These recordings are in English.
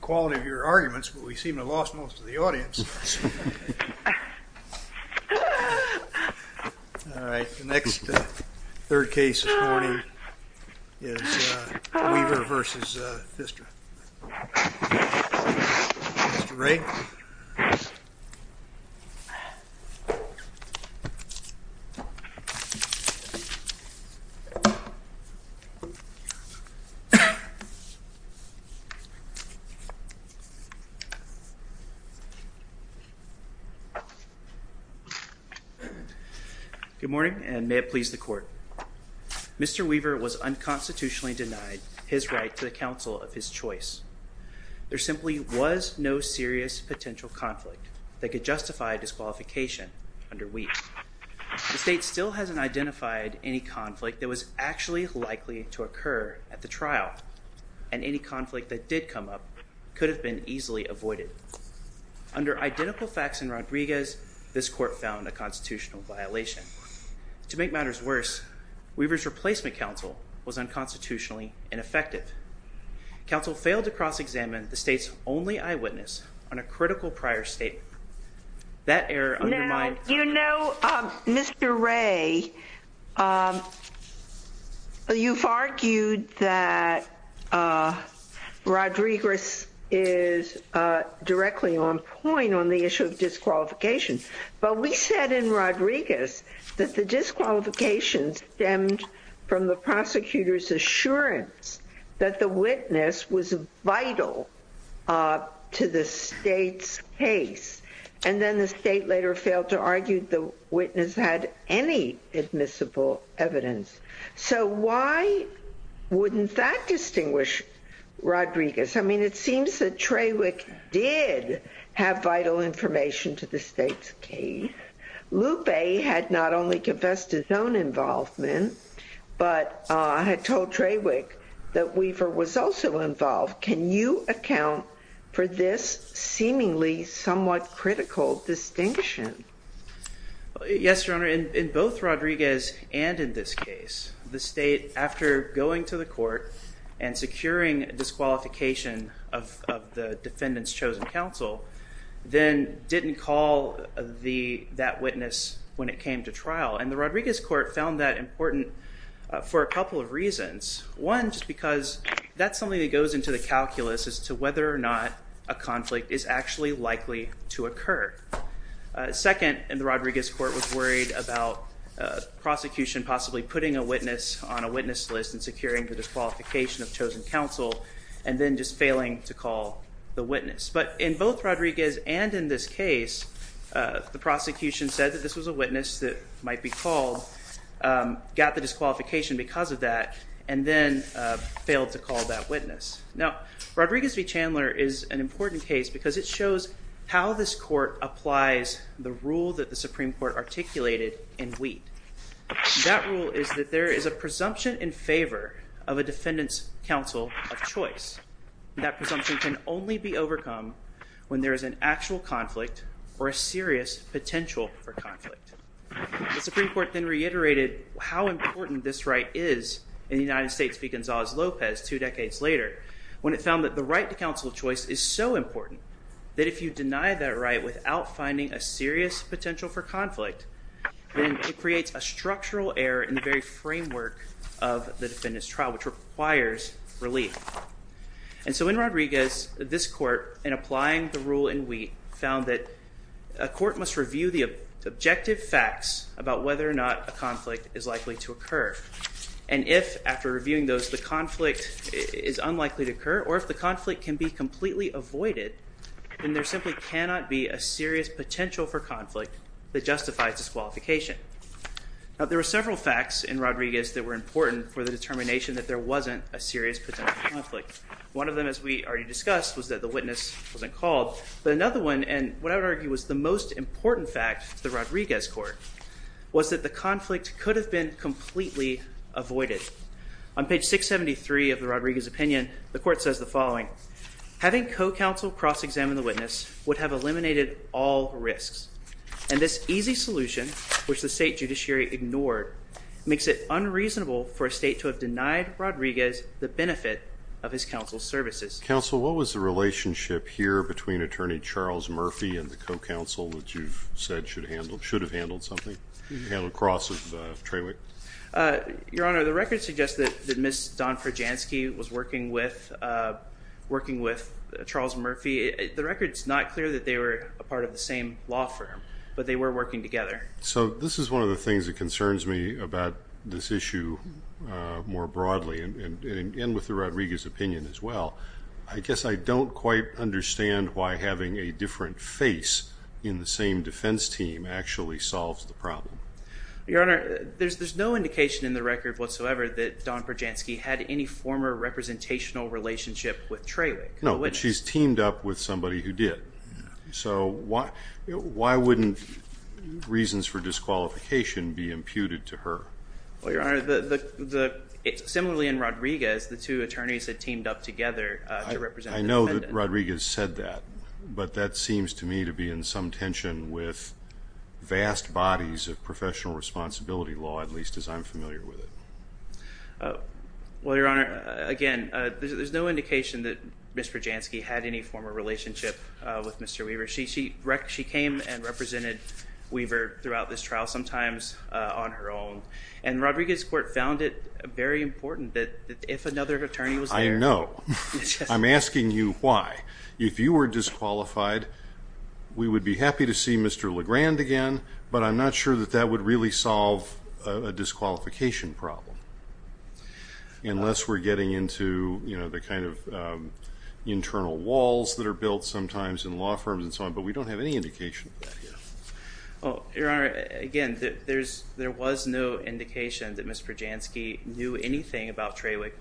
Weaver v. Randy Pfister Good morning, and may it please the court. Mr. Weaver was unconstitutionally denied his right to the counsel of his choice. There simply was no serious potential conflict that could justify disqualification under Wheat. The state still hasn't identified any conflict that was actually likely to occur at the trial, and any conflict that did come up could have been easily avoided. Under identical facts in Rodriguez, this court found a constitutional violation. To make matters worse, Weaver's replacement counsel was unconstitutionally ineffective. Counsel failed to cross-examine the state's only eyewitness on a critical prior statement. Now, you know, Mr. Ray, you've argued that Rodriguez is directly on point on the issue of disqualification. But we said in Rodriguez that the disqualification stemmed from the prosecutor's assurance that the witness was vital to the state's case. And then the state later failed to argue the witness had any admissible evidence. So why wouldn't that distinguish Rodriguez? I mean, it seems that Trawick did have vital information to the state's case. Lupe had not only confessed his own involvement, but had told Trawick that Weaver was also involved. Can you account for this seemingly somewhat critical distinction? Yes, Your Honor. In both Rodriguez and in this case, the state, after going to the court and securing disqualification of the defendant's chosen counsel, then didn't call that witness when it came to trial. And the Rodriguez court found that important for a couple of reasons. One, just because that's something that goes into the calculus as to whether or not a conflict is actually likely to occur. Second, the Rodriguez court was worried about prosecution possibly putting a witness on a witness list and securing the disqualification of chosen counsel, and then just failing to call the witness. But in both Rodriguez and in this case, the prosecution said that this was a witness that might be called, got the disqualification because of that, and then failed to call that witness. Now, Rodriguez v. Chandler is an important case because it shows how this court applies the rule that the Supreme Court articulated in Wheat. That rule is that there is a presumption in favor of a defendant's counsel of choice. That presumption can only be overcome when there is an actual conflict or a serious potential for conflict. The Supreme Court then reiterated how important this right is in the United States v. Gonzales-Lopez two decades later, when it found that the right to counsel of choice is so important that if you deny that right without finding a serious potential for conflict, then it creates a structural error in the very framework of the defendant's trial, which requires relief. And so in Rodriguez, this court, in applying the rule in Wheat, found that a court must review the objective facts about whether or not a conflict is likely to occur. And if, after reviewing those, the conflict is unlikely to occur, or if the conflict can be completely avoided, then there simply cannot be a serious potential for conflict that justifies disqualification. Now, there were several facts in Rodriguez that were important for the determination that there wasn't a serious potential conflict. One of them, as we already discussed, was that the witness wasn't called. But another one, and what I would argue was the most important fact to the Rodriguez court, was that the conflict could have been completely avoided. On page 673 of the Rodriguez opinion, the court says the following, Having co-counsel cross-examine the witness would have eliminated all risks, and this easy solution, which the state judiciary ignored, makes it unreasonable for a state to have denied Rodriguez the benefit of his counsel's services. Counsel, what was the relationship here between Attorney Charles Murphy and the co-counsel that you've said should have handled something, handled cross of Trawick? Your Honor, the record suggests that Ms. Donford Jansky was working with Charles Murphy. The record's not clear that they were a part of the same law firm, but they were working together. So this is one of the things that concerns me about this issue more broadly, and with the Rodriguez opinion as well. I guess I don't quite understand why having a different face in the same defense team actually solves the problem. Your Honor, there's no indication in the record whatsoever that Don Perjansky had any former representational relationship with Trawick. No, but she's teamed up with somebody who did. So why wouldn't reasons for disqualification be imputed to her? Well, Your Honor, similarly in Rodriguez, the two attorneys had teamed up together to represent the defendant. I know that Rodriguez said that, but that seems to me to be in some tension with vast bodies of professional responsibility law, at least as I'm familiar with it. Well, Your Honor, again, there's no indication that Mr. Jansky had any former relationship with Mr. Weaver. She came and represented Weaver throughout this trial, sometimes on her own. And Rodriguez court found it very important that if another attorney was there. I know. I'm asking you why. If you were disqualified, we would be happy to see Mr. Legrand again, but I'm not sure that that would really solve a disqualification problem, unless we're getting into the kind of internal walls that are built sometimes in law firms and so on. But we don't have any indication of that here. Well, Your Honor, again, there was no indication that Mr. Jansky knew anything about Tralick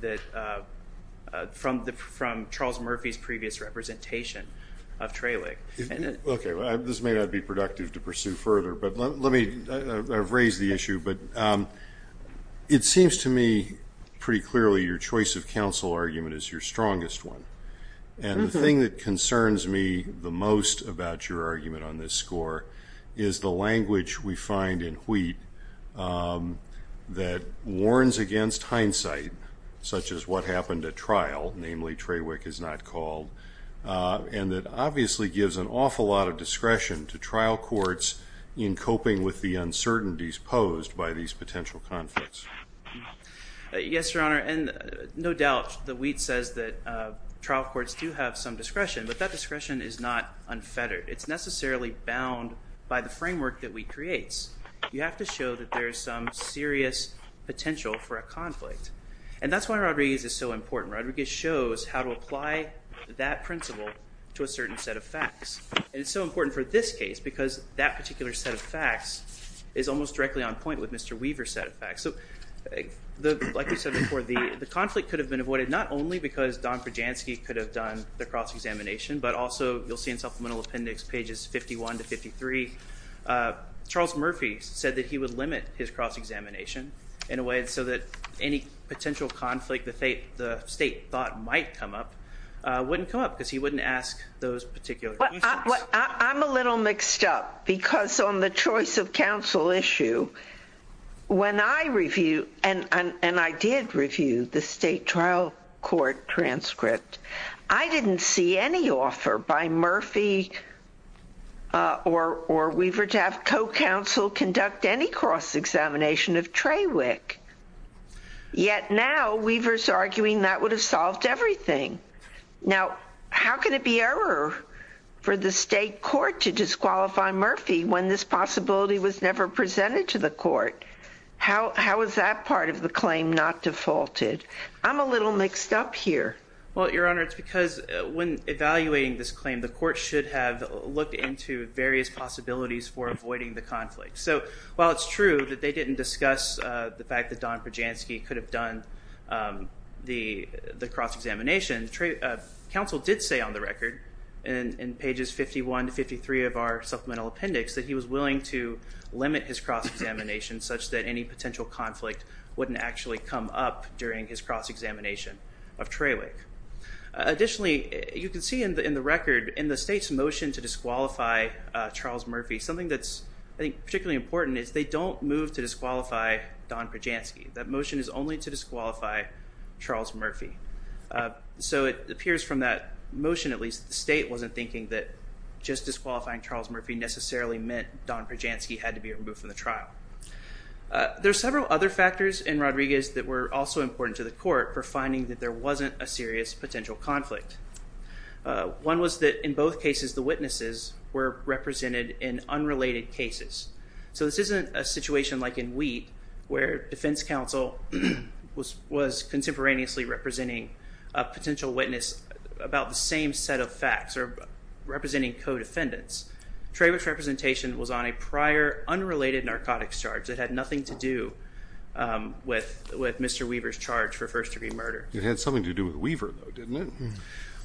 from Charles Murphy's previous representation of Tralick. Okay. This may not be productive to pursue further, but I've raised the issue. But it seems to me pretty clearly your choice of counsel argument is your strongest one. And the thing that concerns me the most about your argument on this score is the language we find in Wheat that warns against hindsight, such as what happened at trial, namely Traywick is not called, and that obviously gives an awful lot of discretion to trial courts in coping with the uncertainties posed by these potential conflicts. Yes, Your Honor. And no doubt the Wheat says that trial courts do have some discretion, but that discretion is not unfettered. It's necessarily bound by the framework that Wheat creates. You have to show that there is some serious potential for a conflict. And that's why Rodriguez is so important. Rodriguez shows how to apply that principle to a certain set of facts. And it's so important for this case because that particular set of facts is almost directly on point with Mr. Weaver's set of facts. Like we said before, the conflict could have been avoided not only because Don Projansky could have done the cross-examination, but also you'll see in supplemental appendix pages 51 to 53, Charles Murphy said that he would limit his cross-examination in a way so that any potential conflict the state thought might come up wouldn't come up because he wouldn't ask those particular questions. I'm a little mixed up because on the choice of counsel issue, when I review, and I did review the state trial court transcript, I didn't see any offer by Murphy or Weaver to have co-counsel conduct any cross-examination of Trawick. Yet now, Weaver's arguing that would have solved everything. Now, how can it be error for the state court to disqualify Murphy when this possibility was never presented to the court? How is that part of the claim not defaulted? I'm a little mixed up here. Well, Your Honor, it's because when evaluating this claim, the court should have looked into various possibilities for avoiding the conflict. So while it's true that they didn't discuss the fact that Don Projansky could have done the cross-examination, counsel did say on the record in pages 51 to 53 of our supplemental appendix that he was willing to limit his cross-examination such that any potential conflict wouldn't actually come up during his cross-examination of Trawick. Additionally, you can see in the record in the state's motion to disqualify Charles Murphy, something that's particularly important is they don't move to disqualify Don Projansky. That motion is only to disqualify Charles Murphy. So it appears from that motion, at least, the state wasn't thinking that just disqualifying Charles Murphy necessarily meant Don Projansky had to be removed from the trial. There are several other factors in Rodriguez that were also important to the court for finding that there wasn't a serious potential conflict. One was that in both cases, the witnesses were represented in unrelated cases. So this isn't a situation like in Wheat where defense counsel was contemporaneously representing a potential witness about the same set of facts or representing co-defendants. Trawick's representation was on a prior unrelated narcotics charge that had nothing to do with Mr. Weaver's charge for first-degree murder. It had something to do with Weaver, though, didn't it?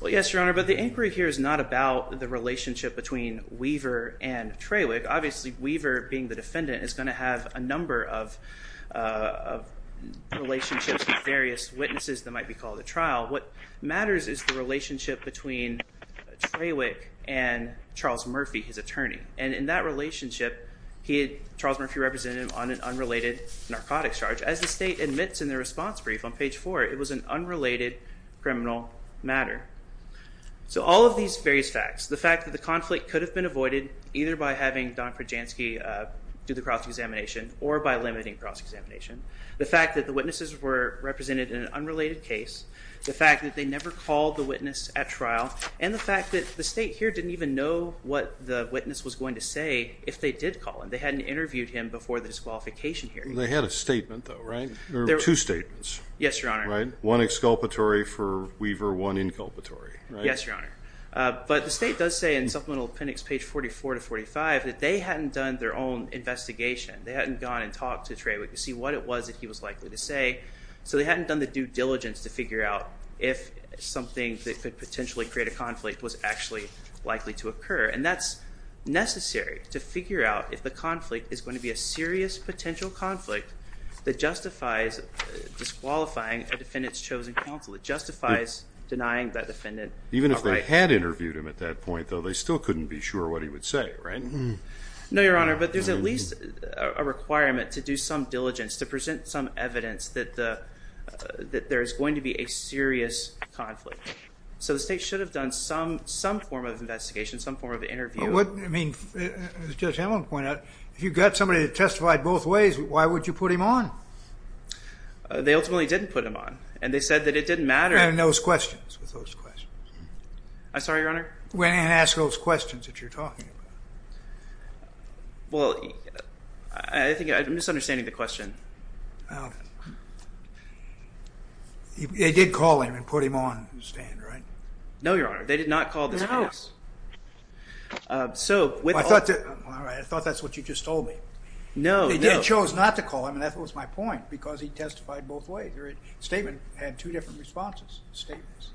Well, yes, Your Honor, but the inquiry here is not about the relationship between Weaver and Trawick. Obviously, Weaver being the defendant is going to have a number of relationships with various witnesses that might be called at trial. What matters is the relationship between Trawick and Charles Murphy, his attorney. And in that relationship, Charles Murphy represented him on an unrelated narcotics charge. As the state admits in the response brief on page 4, it was an unrelated criminal matter. So all of these various facts, the fact that the conflict could have been avoided either by having Don Projansky do the cross-examination or by limiting cross-examination, the fact that the witnesses were represented in an unrelated case, the fact that they never called the witness at trial, and the fact that the state here didn't even know what the witness was going to say if they did call him. They hadn't interviewed him before the disqualification hearing. They had a statement, though, right? There were two statements. Yes, Your Honor. One exculpatory for Weaver, one inculpatory, right? Yes, Your Honor. But the state does say in supplemental appendix page 44 to 45 that they hadn't done their own investigation. They hadn't gone and talked to Trawick to see what it was that he was likely to say. So they hadn't done the due diligence to figure out if something that could potentially create a conflict was actually likely to occur. And that's necessary to figure out if the conflict is going to be a serious potential conflict that justifies disqualifying a defendant's chosen counsel. It justifies denying that defendant a right. Even if they had interviewed him at that point, though, they still couldn't be sure what he would say, right? No, Your Honor. But there's at least a requirement to do some diligence, to present some evidence that there is going to be a serious conflict. So the state should have done some form of investigation, some form of interview. I mean, as Judge Hamilton pointed out, if you got somebody that testified both ways, why would you put him on? They ultimately didn't put him on. And they said that it didn't matter. And those questions, with those questions. I'm sorry, Your Honor? Went in and asked those questions that you're talking about. Well, I think I'm misunderstanding the question. They did call him and put him on the stand, right? No, Your Honor. They did not call this witness. No. I thought that's what you just told me. No, no. They chose not to call him, and that was my point, because he testified both ways. The statement had two different responses, statements.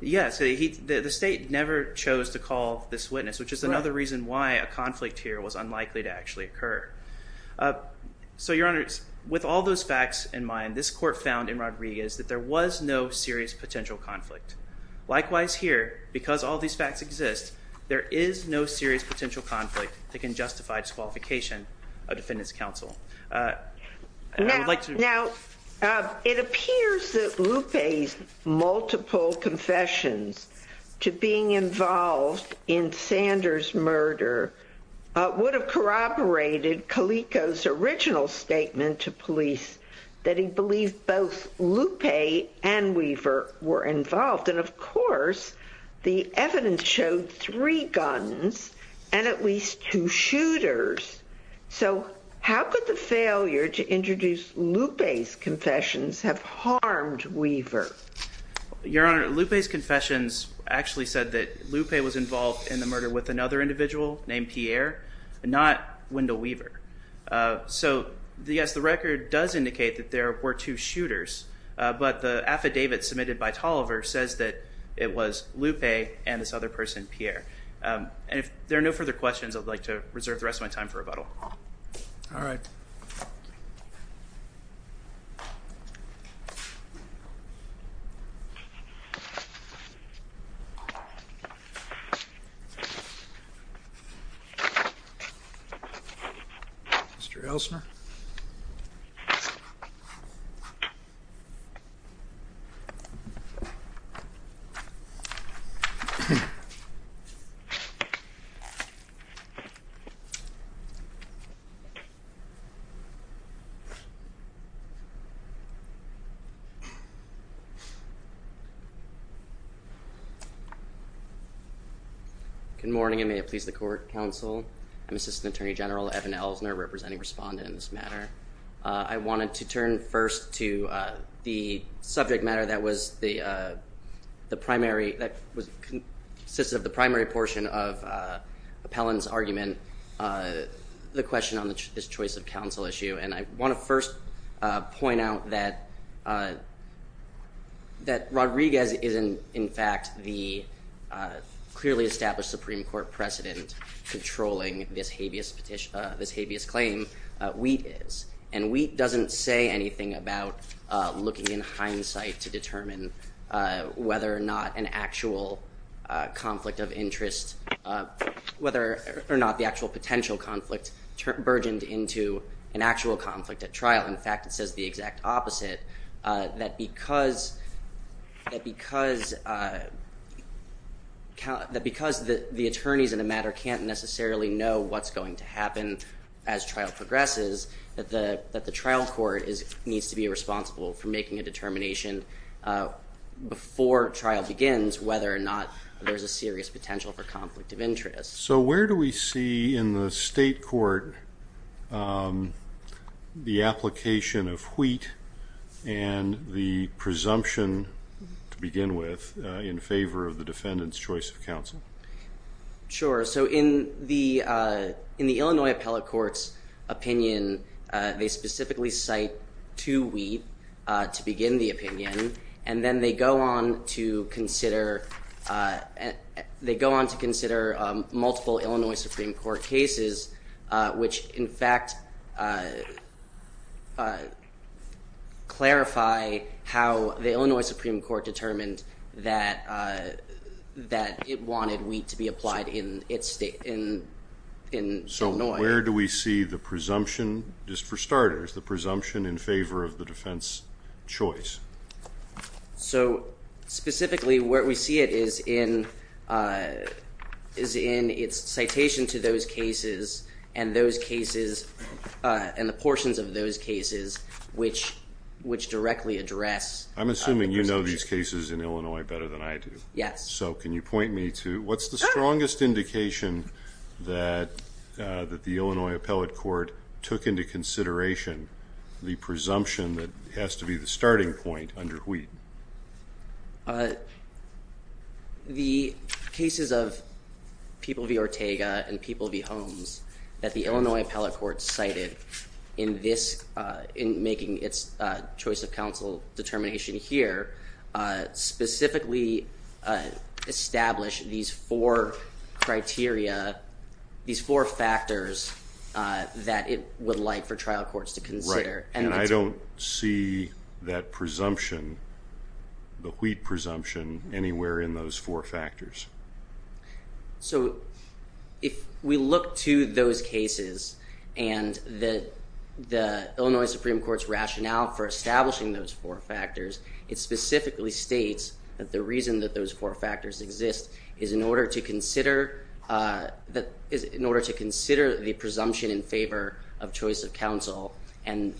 Yes. The state never chose to call this witness, which is another reason why a conflict here was unlikely to actually occur. So, Your Honor, with all those facts in mind, this court found in Rodriguez that there was no serious potential conflict. Likewise here, because all these facts exist, there is no serious potential conflict that can justify disqualification of defendants counsel. Now, it appears that Lupe's multiple confessions to being involved in Sanders' murder would have corroborated Calico's original statement to police that he believed both Lupe and Weaver were involved. And, of course, the evidence showed three guns and at least two shooters. So how could the failure to introduce Lupe's confessions have harmed Weaver? Your Honor, Lupe's confessions actually said that Lupe was involved in the murder with another individual named Pierre, not Wendell Weaver. So, yes, the record does indicate that there were two shooters, but the affidavit submitted by Tolliver says that it was Lupe and this other person, Pierre. And if there are no further questions, I'd like to reserve the rest of my time for rebuttal. All right. Mr. Elsner? Good morning and may it please the court, counsel. I'm Assistant Attorney General Evan Elsner, representing respondents in this matter. I wanted to turn first to the subject matter that was the primary, that consisted of the primary portion of Appellant's argument, the question on this choice of counsel issue. And I want to first point out that Rodriguez is, in fact, the clearly established Supreme Court precedent controlling this habeas claim, Wheat is. And Wheat doesn't say anything about looking in hindsight to determine whether or not an actual conflict of interest, whether or not the actual potential conflict burgeoned into an actual conflict at trial. In fact, it says the exact opposite, that because the attorneys in the matter can't necessarily know what's going to happen as trial progresses, that the trial court needs to be responsible for making a determination before trial begins whether or not there's a serious potential for conflict of interest. So where do we see in the state court the application of Wheat and the presumption, to begin with, in favor of the defendant's choice of counsel? Sure. So in the Illinois Appellate Court's opinion, they specifically cite to Wheat to begin the opinion. And then they go on to consider multiple Illinois Supreme Court cases, which, in fact, clarify how the Illinois Supreme Court determined that it wanted Wheat to be applied in Illinois. Where do we see the presumption, just for starters, the presumption in favor of the defense's choice? So specifically, where we see it is in its citation to those cases and the portions of those cases which directly address the presumption. I'm assuming you know these cases in Illinois better than I do. Yes. So can you point me to what's the strongest indication that the Illinois Appellate Court took into consideration the presumption that has to be the starting point under Wheat? The cases of People v. Ortega and People v. Holmes that the Illinois Appellate Court cited in making its choice of counsel determination here specifically established these four criteria, these four factors, that it would like for trial courts to consider. And I don't see that presumption, the Wheat presumption, anywhere in those four factors. So if we look to those cases and the Illinois Supreme Court's rationale for establishing those four factors, it specifically states that the reason that those four factors exist is in order to consider the presumption in favor of choice of counsel. And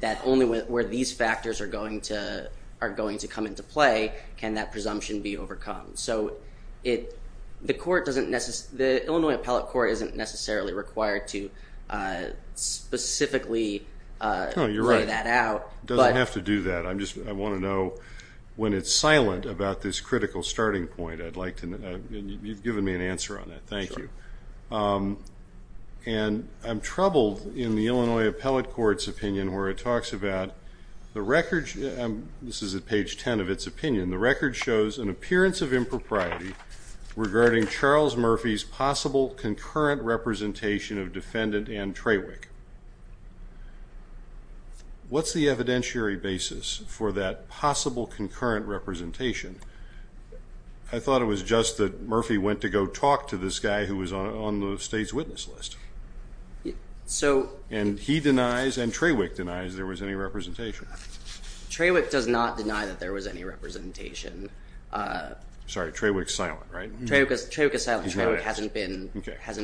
that only where these factors are going to come into play can that presumption be overcome. So the Illinois Appellate Court isn't necessarily required to specifically lay that out. It doesn't have to do that. I want to know when it's silent about this critical starting point. You've given me an answer on that. Thank you. And I'm troubled in the Illinois Appellate Court's opinion where it talks about the record. This is at page 10 of its opinion. The record shows an appearance of impropriety regarding Charles Murphy's possible concurrent representation of defendant Ann Traywick. What's the evidentiary basis for that possible concurrent representation? I thought it was just that Murphy went to go talk to this guy who was on the state's witness list. And he denies and Traywick denies there was any representation. Traywick does not deny that there was any representation. Sorry, Traywick's silent, right? Traywick is silent. Traywick hasn't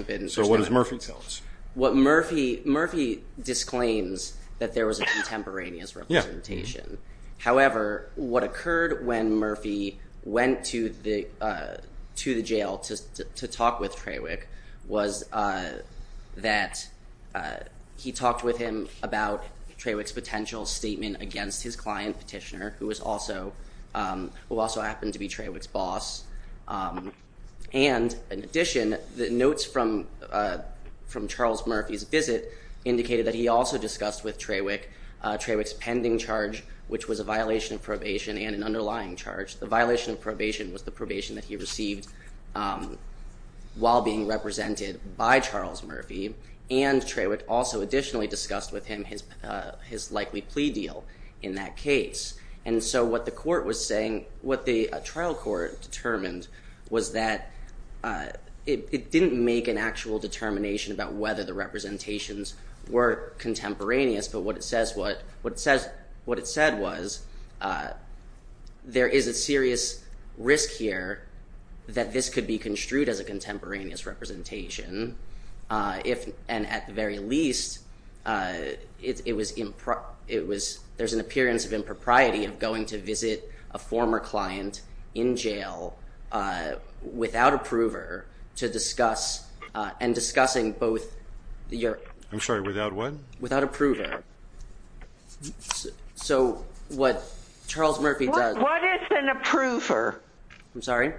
been. So what does Murphy tell us? Murphy disclaims that there was a contemporaneous representation. However, what occurred when Murphy went to the jail to talk with Traywick was that he talked with him about Traywick's potential statement against his client, Petitioner, who also happened to be Traywick's boss. And in addition, the notes from Charles Murphy's visit indicated that he also discussed with Traywick Traywick's pending charge, which was a violation of probation and an underlying charge. The violation of probation was the probation that he received while being represented by Charles Murphy. And Traywick also additionally discussed with him his likely plea deal in that case. And so what the court was saying, what the trial court determined was that it didn't make an actual determination about whether the representations were contemporaneous. But what it said was there is a serious risk here that this could be construed as a contemporaneous representation. And at the very least, there's an appearance of impropriety of going to visit a former client in jail without a prover to discuss and discussing both. I'm sorry, without what? Without a prover. So what Charles Murphy does. What is an approver? I'm sorry.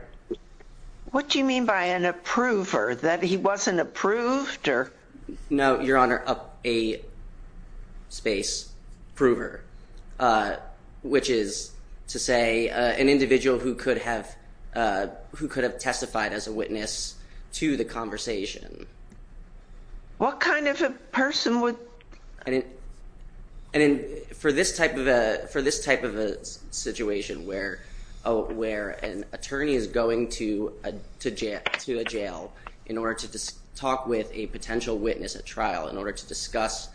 What do you mean by an approver? That he wasn't approved or. No, Your Honor, a space prover, which is to say an individual who could have who could have testified as a witness to the conversation. What kind of a person would. And for this type of a situation where an attorney is going to a jail in order to talk with a potential witness at trial, in order to discuss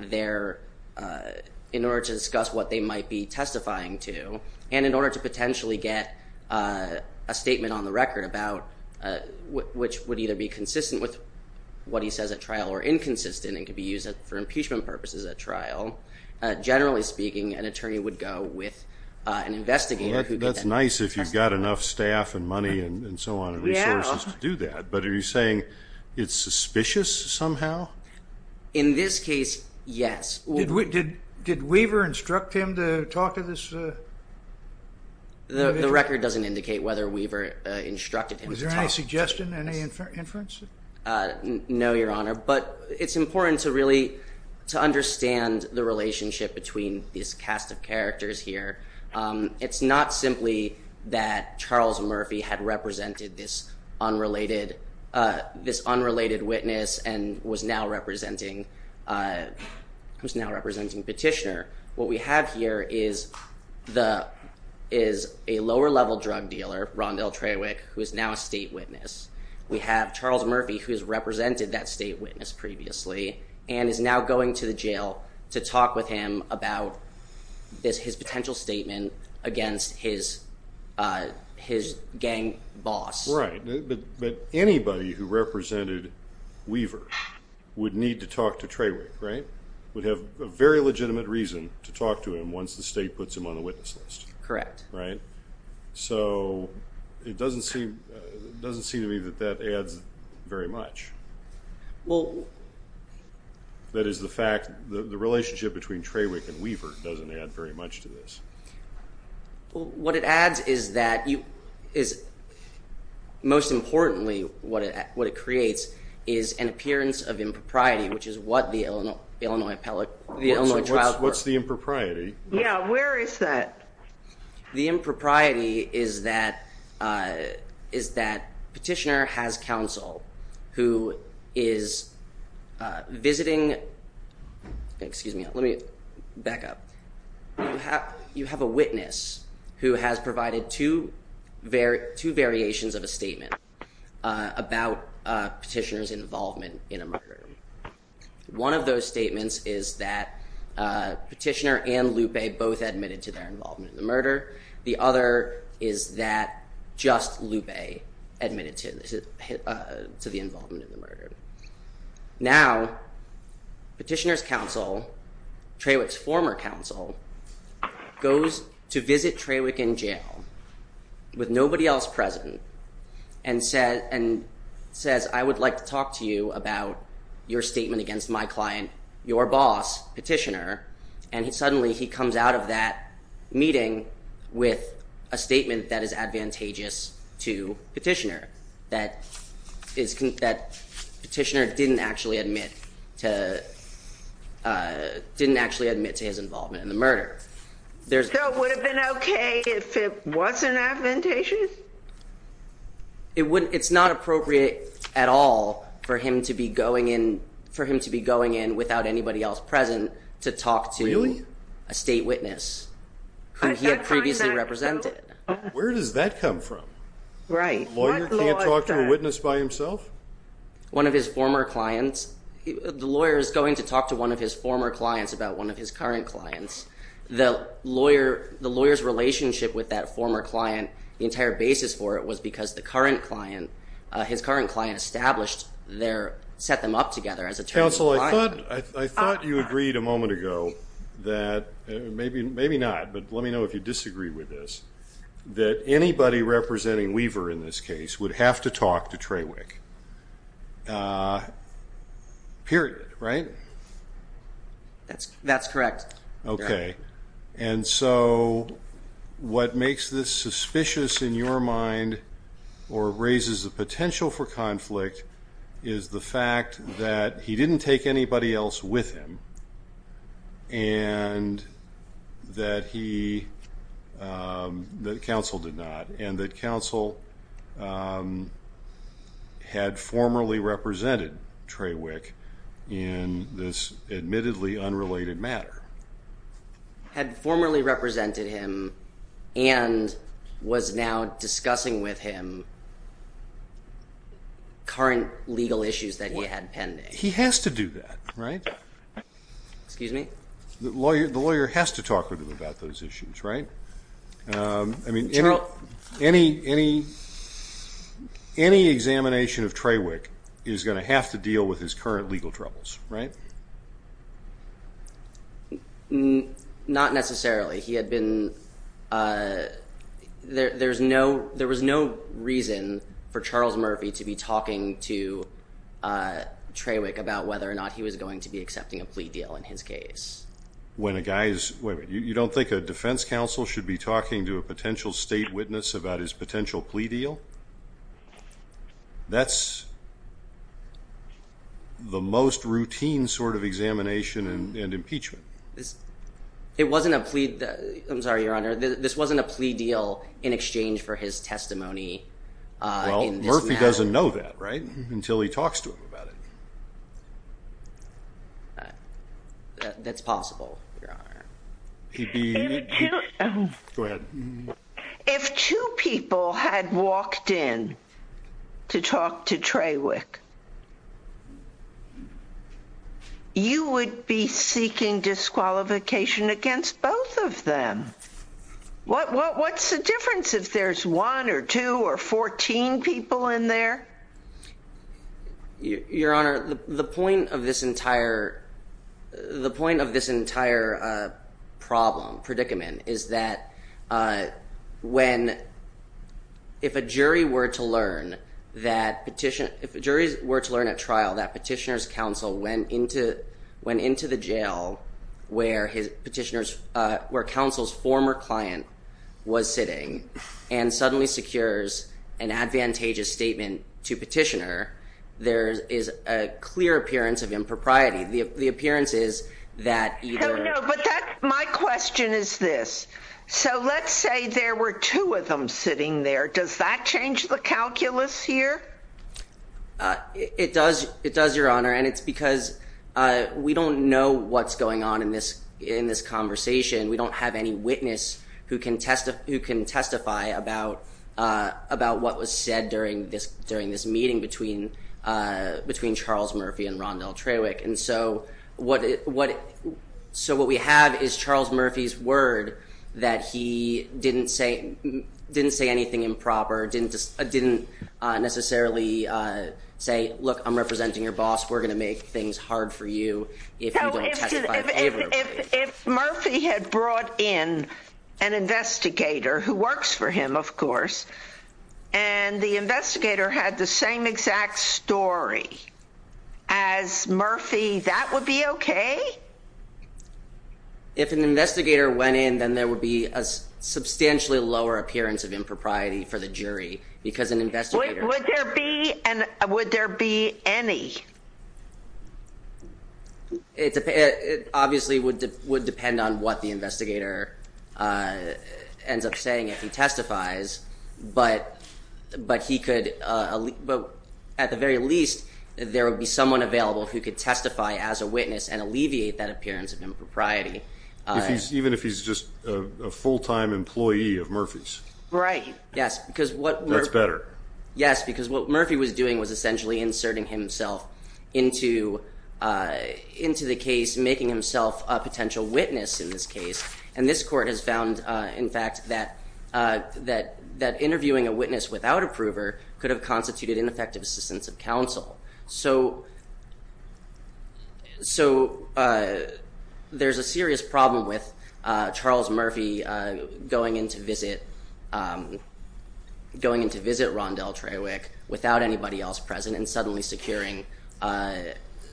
their. In order to discuss what they might be testifying to and in order to potentially get a statement on the record about which would either be consistent with what he says at trial or inconsistent and could be used for impeachment purposes at trial. Generally speaking, an attorney would go with an investigator. That's nice if you've got enough staff and money and so on and resources to do that. But are you saying it's suspicious somehow? In this case, yes. Did we did did Weaver instruct him to talk to this? The record doesn't indicate whether Weaver instructed him. Was there any suggestion, any inference? No, Your Honor. But it's important to really to understand the relationship between this cast of characters here. It's not simply that Charles Murphy had represented this unrelated witness and was now representing Petitioner. What we have here is a lower level drug dealer, Rondell Trawick, who is now a state witness. We have Charles Murphy, who has represented that state witness previously and is now going to the jail to talk with him about his potential statement against his gang boss. Right. But anybody who represented Weaver would need to talk to Trawick, right? Would have a very legitimate reason to talk to him once the state puts him on the witness list. Correct. Right. So it doesn't seem doesn't seem to me that that adds very much. Well. That is the fact that the relationship between Trawick and Weaver doesn't add very much to this. What it adds is that you is most importantly, what it what it creates is an appearance of impropriety, which is what the Illinois appellate, the Illinois trials were. What's the impropriety? Yeah. Where is that? The impropriety is that is that petitioner has counsel who is visiting. Excuse me. Let me back up. You have a witness who has provided to their two variations of a statement about petitioners involvement in a murder. One of those statements is that petitioner and Lupe both admitted to their involvement in the murder. The other is that just Lupe admitted to the involvement in the murder. Now, petitioner's counsel, Trawick's former counsel, goes to visit Trawick in jail with nobody else present and said and says, I would like to talk to you about your statement against my client, your boss, petitioner. And he suddenly he comes out of that meeting with a statement that is advantageous to petitioner that is that petitioner didn't actually admit to didn't actually admit to his involvement in the murder. There's no would have been OK if it wasn't advantageous. It's not appropriate at all for him to be going in for him to be going in without anybody else present to talk to a state witness who he had previously represented. Where does that come from? Right. Talk to a witness by himself. One of his former clients. The lawyer is going to talk to one of his former clients about one of his current clients. The lawyer, the lawyer's relationship with that former client, the entire basis for it was because the current client, his current client established their set them up together as a council. I thought I thought you agreed a moment ago that maybe maybe not. But let me know if you disagree with this, that anybody representing Weaver in this case would have to talk to Trawick period. Right. That's that's correct. OK. And so what makes this suspicious in your mind or raises the potential for conflict is the fact that he didn't take anybody else with him. And that he that counsel did not and that counsel had formerly represented Trawick in this admittedly unrelated matter. Had formerly represented him and was now discussing with him. Current legal issues that he had pending. He has to do that. Right. Excuse me. The lawyer, the lawyer has to talk with him about those issues. Right. I mean, you know, any any any examination of Trawick is going to have to deal with his current legal troubles. Right. Not necessarily. He had been there. There's no there was no reason for Charles Murphy to be talking to Trawick about whether or not he was going to be accepting a plea deal in his case. When a guy is you don't think a defense counsel should be talking to a potential state witness about his potential plea deal. That's the most routine sort of examination and impeachment. It wasn't a plea. I'm sorry, Your Honor. This wasn't a plea deal in exchange for his testimony. Well, Murphy doesn't know that. Right. Until he talks to him about it. That's possible. He'd be glad if two people had walked in to talk to Trawick. You would be seeking disqualification against both of them. What's the difference if there's one or two or 14 people in there? Your Honor, the point of this entire the point of this entire problem predicament is that when if a jury were to learn that petition, if a jury were to learn at trial that petitioner's counsel went into went into the jail where his petitioners were counsel's former client was sitting and suddenly secures an advantageous statement to petitioner. There is a clear appearance of impropriety. The appearance is that my question is this. So let's say there were two of them sitting there. Does that change the calculus here? It does. It does, Your Honor. And it's because we don't know what's going on in this in this conversation. We don't have any witness who can testify who can testify about about what was said during this during this meeting between between Charles Murphy and Rondell Trawick. And so what what so what we have is Charles Murphy's word that he didn't say didn't say anything improper, didn't didn't necessarily say, look, I'm representing your boss. We're going to make things hard for you. If Murphy had brought in an investigator who works for him, of course, and the investigator had the same exact story as Murphy, that would be OK. If an investigator went in, then there would be a substantially lower appearance of impropriety for the jury because an investigator would there be and would there be any. It obviously would would depend on what the investigator ends up saying if he testifies. But but he could. But at the very least, there would be someone available who could testify as a witness and alleviate that appearance of impropriety. Even if he's just a full time employee of Murphy's. Right. Yes, because what works better. Yes, because what Murphy was doing was essentially inserting himself into into the case, making himself a potential witness in this case. And this court has found, in fact, that that that interviewing a witness without a prover could have constituted ineffective assistance of counsel. So. So there's a serious problem with Charles Murphy going in to visit, going in to visit Rondell Trawick without anybody else present and suddenly securing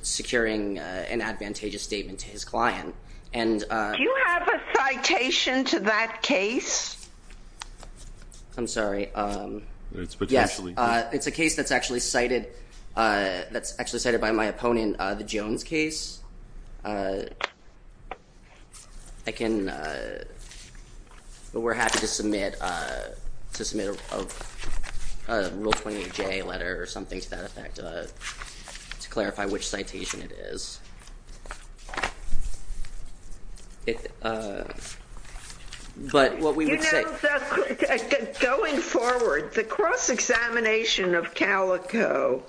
securing an advantageous statement to his client. And do you have a citation to that case? I'm sorry. It's potentially. It's a case that's actually cited. That's actually cited by my opponent. The Jones case. I can. But we're happy to submit to submit a real 20 day letter or something to that effect to clarify which citation it is. But what we would say going forward, the cross examination of Calico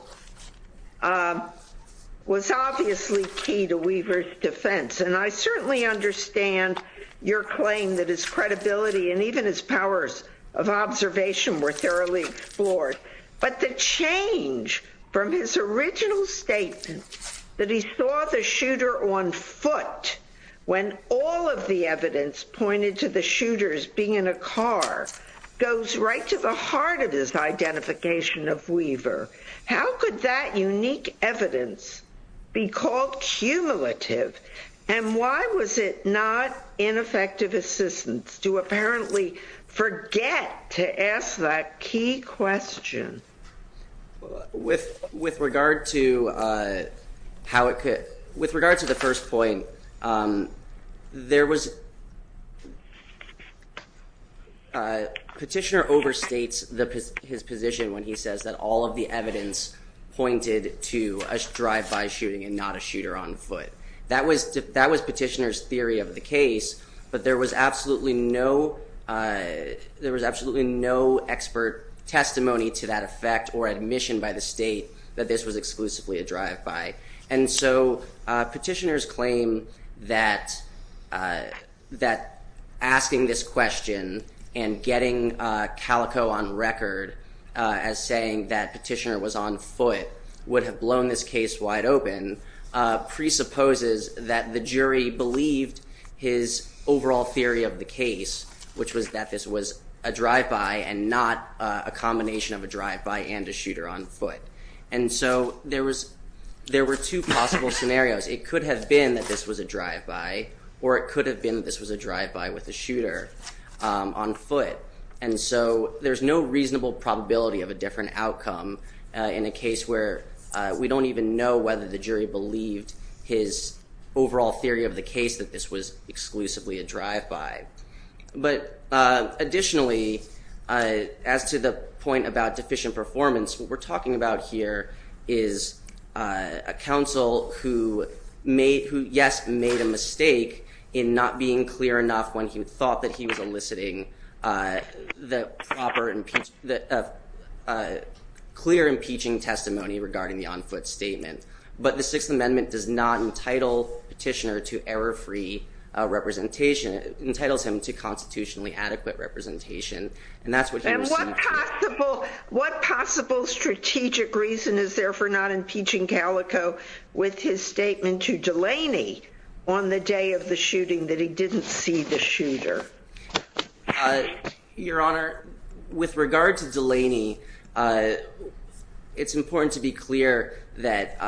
was obviously key to Weaver's defense, and I certainly understand your claim that his credibility and even his powers of observation were thoroughly explored. But the change from his original statement that he saw the shooter on foot when all of the evidence pointed to the shooters being in a car goes right to the heart of his identification of Weaver. How could that unique evidence be called cumulative? And why was it not ineffective assistance to apparently forget to ask that key question with with regard to how it could. With regard to the first point, there was. Petitioner overstates his position when he says that all of the evidence pointed to a drive by shooting and not a shooter on foot. That was that was petitioners theory of the case. But there was absolutely no there was absolutely no expert testimony to that effect or admission by the state that this was exclusively a drive by. And so petitioners claim that that asking this question and getting Calico on record as saying that petitioner was on foot would have blown this case wide open presupposes that the jury believed his overall theory of the case, which was that this was a drive by and not a combination of a drive by and a shooter on foot. And so there was there were two possible scenarios. It could have been that this was a drive by or it could have been. This was a drive by with a shooter on foot. And so there's no reasonable probability of a different outcome in a case where we don't even know whether the jury believed his overall theory of the case that this was exclusively a drive by. But additionally, as to the point about deficient performance, what we're talking about here is a counsel who made who, yes, made a mistake in not being clear enough when he thought that he was eliciting the proper and clear impeaching testimony regarding the on foot statement. But the Sixth Amendment does not entitle petitioner to error free representation, entitles him to constitutionally adequate representation. And that's what. And what possible what possible strategic reason is there for not impeaching Calico with his statement to Delaney on the day of the shooting that he didn't see the shooter? Your Honor, with regard to Delaney, it's important to be clear that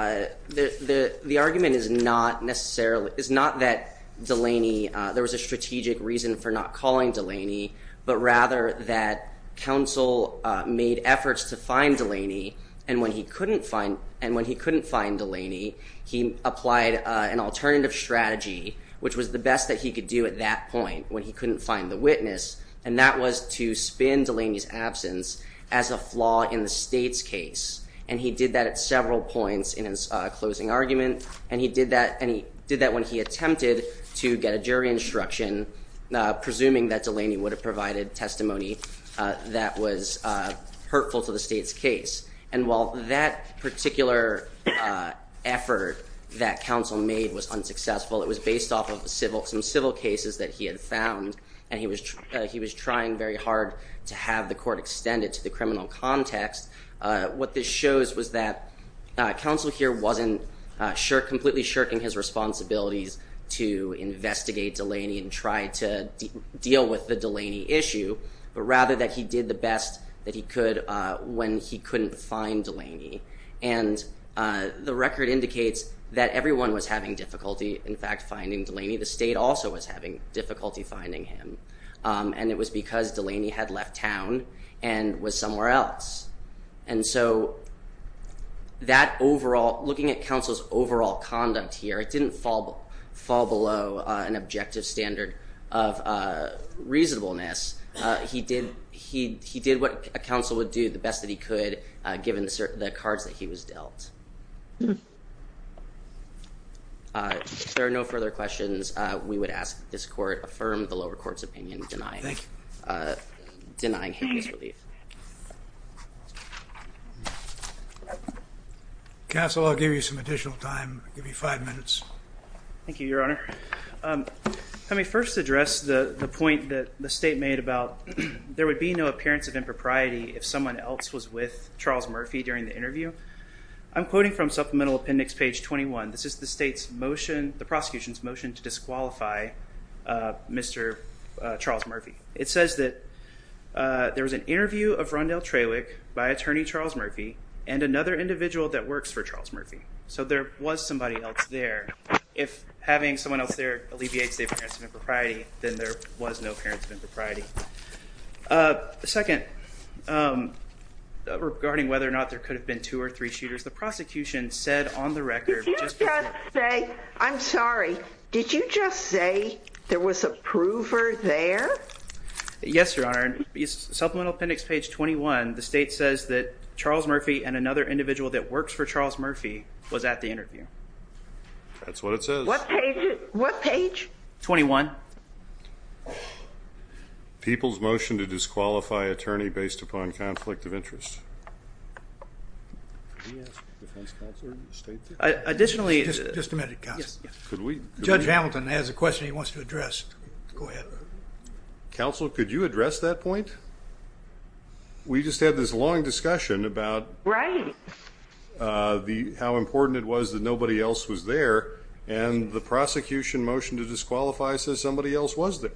the argument is not necessarily is not that Delaney there was a strategic reason for not calling Delaney, but rather that counsel made efforts to find Delaney. And when he couldn't find and when he couldn't find Delaney, he applied an alternative strategy, which was the best that he could do at that point when he couldn't find the witness. And that was to spin Delaney's absence as a flaw in the state's case. And he did that at several points in his closing argument. And he did that and he did that when he attempted to get a jury instruction, presuming that Delaney would have provided testimony that was hurtful to the state's case. And while that particular effort that counsel made was unsuccessful, it was based off of civil some civil cases that he had found. And he was he was trying very hard to have the court extended to the criminal context. What this shows was that counsel here wasn't completely shirking his responsibilities to investigate Delaney and try to deal with the Delaney issue, but rather that he did the best that he could when he couldn't find Delaney. And the record indicates that everyone was having difficulty, in fact, finding Delaney. The state also was having difficulty finding him. And it was because Delaney had left town and was somewhere else. And so that overall looking at counsel's overall conduct here, it didn't fall fall below an objective standard of reasonableness. He did he he did what a counsel would do the best that he could, given the cards that he was dealt. Thank you, Your Honor. I may first address the point that the state made about there would be no appearance of impropriety if someone else was with Charles Murphy during the interview. I'm quoting from Supplemental Appendix page 21. This is the state's motion, the prosecution's motion to disqualify Mr. Charles Murphy. It says that there was an interview of Rondell Traywick by attorney Charles Murphy and another individual that works for Charles Murphy. So there was somebody else there. If having someone else there alleviates the appearance of impropriety, then there was no appearance of impropriety. Second, regarding whether or not there could have been two or three shooters, the prosecution said on the record... Did you just say, I'm sorry, did you just say there was a prover there? Yes, Your Honor. In Supplemental Appendix page 21, the state says that Charles Murphy and another individual that works for Charles Murphy was at the interview. That's what it says. What page? 21. People's motion to disqualify attorney based upon conflict of interest. Additionally... Just a minute, counsel. Judge Hamilton has a question he wants to address. Go ahead. Counsel, could you address that point? We just had this long discussion about... Right. How important it was that nobody else was there and the prosecution motion to disqualify says somebody else was there.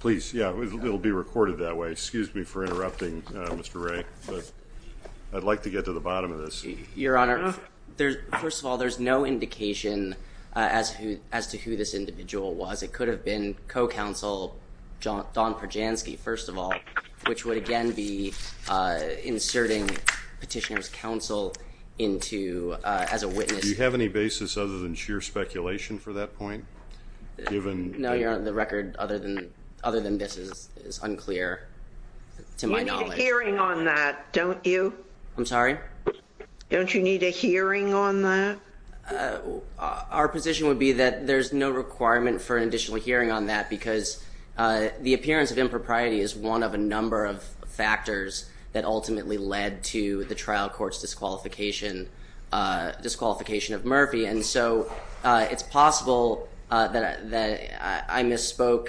Please, yeah, it'll be recorded that way. Excuse me for interrupting, Mr. Wray. I'd like to get to the bottom of this. Your Honor, first of all, there's no indication as to who this individual was. It could have been co-counsel Don Perjanski, first of all, which would again be inserting petitioner's counsel as a witness. Do you have any basis other than sheer speculation for that point? No, Your Honor, the record other than this is unclear to my knowledge. You need a hearing on that, don't you? I'm sorry? Don't you need a hearing on that? Our position would be that there's no requirement for an additional hearing on that because the appearance of impropriety is one of a number of factors that ultimately led to the trial court's disqualification of Murphy, and so it's possible that I misspoke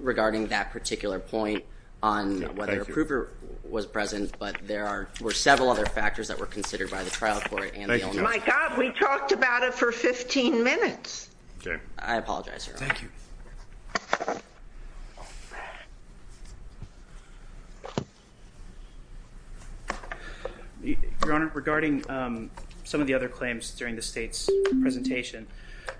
regarding that particular point on whether a proofer was present, but there were several other factors that were considered by the trial court. My God, we talked about it for 15 minutes. I apologize, Your Honor. Thank you. Your Honor, regarding some of the other claims during the State's presentation,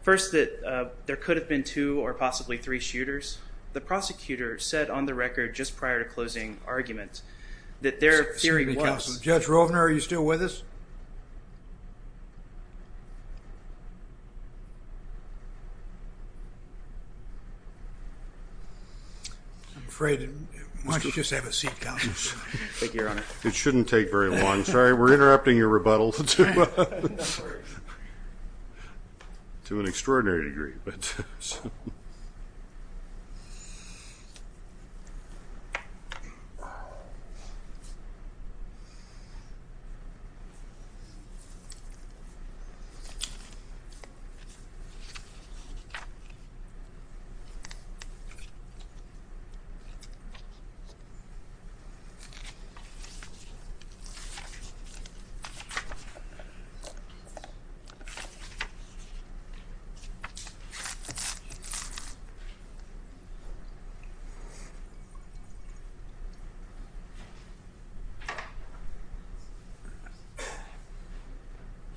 first that there could have been two or possibly three shooters, the prosecutor said on the record just prior to closing arguments that their theory was Excuse me, counsel. Judge Rovner, are you still with us? I'm afraid why don't you just have a seat, counsel? Thank you, Your Honor. It shouldn't take very long. Sorry, we're interrupting your rebuttal to an extraordinary degree. Thank you.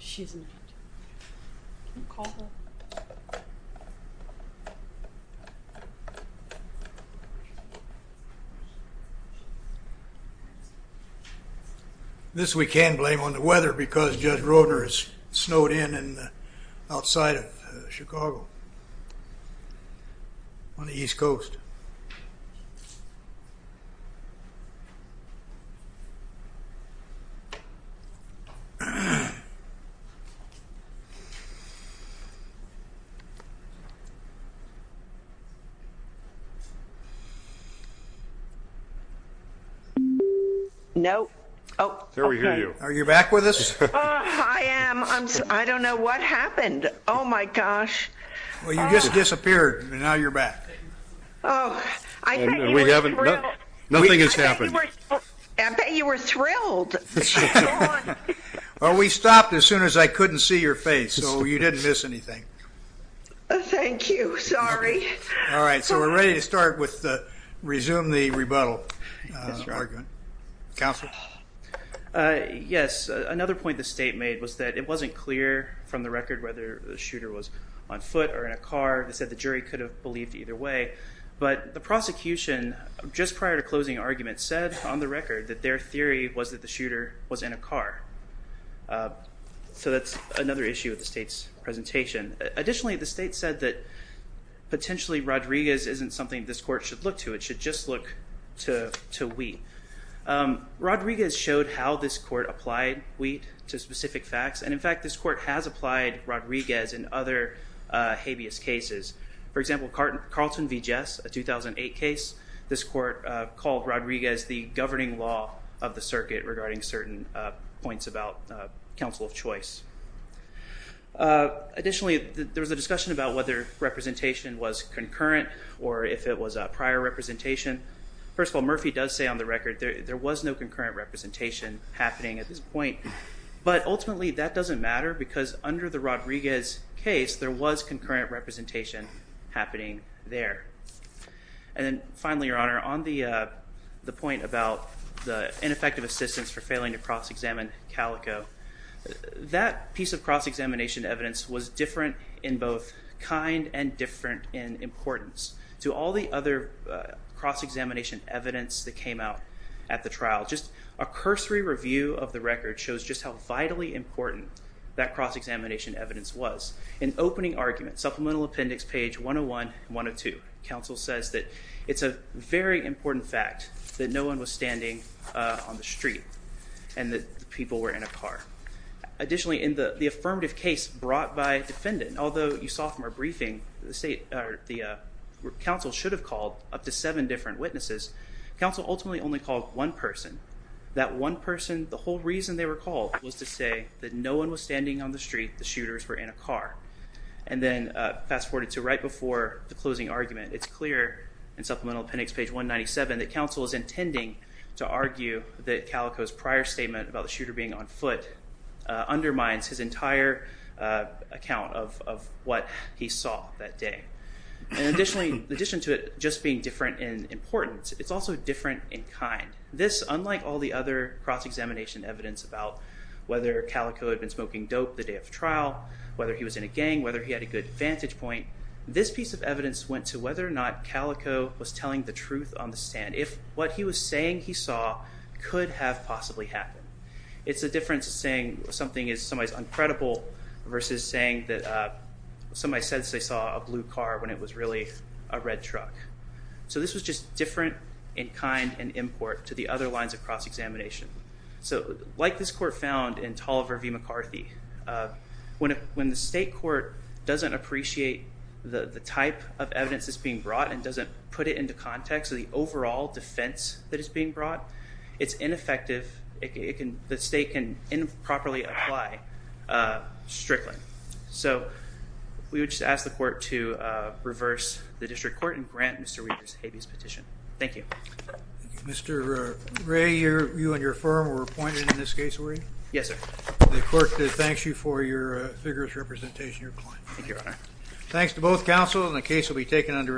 She's not here. Can you call her? This we can blame on the weather because Judge Rovner has snowed in outside of Chicago on the East Coast. No. There we hear you. Are you back with us? I am. I don't know what happened. Oh, my gosh. Well, you just disappeared and now you're back. Oh, I bet you were thrilled. Nothing has happened. I bet you were thrilled. Well, we stopped as soon as I couldn't see your face, so you didn't miss anything. Thank you. Sorry. All right, so we're ready to start with the resume the rebuttal argument. Counsel? Yes. Another point the state made was that it wasn't clear from the record whether the shooter was on foot or in a car. They said the jury could have believed either way. But the prosecution, just prior to closing argument, said on the record that their theory was that the shooter was in a car. So that's another issue with the state's presentation. Additionally, the state said that potentially Rodriguez isn't something this court should look to. It should just look to we. Rodriguez showed how this court applied we to specific facts. And, in fact, this court has applied Rodriguez in other habeas cases. For example, Carlton v. Jess, a 2008 case, this court called Rodriguez the governing law of the circuit regarding certain points about counsel of choice. Additionally, there was a discussion about whether representation was concurrent or if it was prior representation. First of all, Murphy does say on the record there was no concurrent representation happening at this point. But, ultimately, that doesn't matter because under the Rodriguez case there was concurrent representation happening there. And then, finally, Your Honor, on the point about the ineffective assistance for failing to cross-examine Calico, that piece of cross-examination evidence was different in both kind and different in importance. To all the other cross-examination evidence that came out at the trial, just a cursory review of the record shows just how vitally important that cross-examination evidence was. In opening argument, supplemental appendix page 101 and 102, counsel says that it's a very important fact that no one was standing on the street and that the people were in a car. Additionally, in the affirmative case brought by defendant, although you saw from our briefing that counsel should have called up to seven different witnesses, counsel ultimately only called one person. That one person, the whole reason they were called was to say that no one was standing on the street, the shooters were in a car. And then, fast forward to right before the closing argument, it's clear in supplemental appendix page 197 that counsel is intending to argue that Calico's prior statement about that day. In addition to it just being different in importance, it's also different in kind. This, unlike all the other cross-examination evidence about whether Calico had been smoking dope the day of the trial, whether he was in a gang, whether he had a good vantage point, this piece of evidence went to whether or not Calico was telling the truth on the stand. If what he was saying he saw could have possibly happened. It's the difference of saying something is somebody's uncredible versus saying that somebody said they saw a blue car when it was really a red truck. So, this was just different in kind and import to the other lines of cross-examination. So, like this court found in Tolliver v. McCarthy, when the state court doesn't appreciate the type of evidence that's being brought and doesn't put it into context of the overall defense that is being brought, it's ineffective. The state can improperly apply strictly. So, we would just ask the court to reverse the district court and grant Mr. Weaver's habeas petition. Thank you. Mr. Ray, you and your firm were appointed in this case, were you? Yes, sir. The court thanks you for your vigorous representation and your client. Thank you, Your Honor. Thanks to both counsel and the case will be taken under advisement.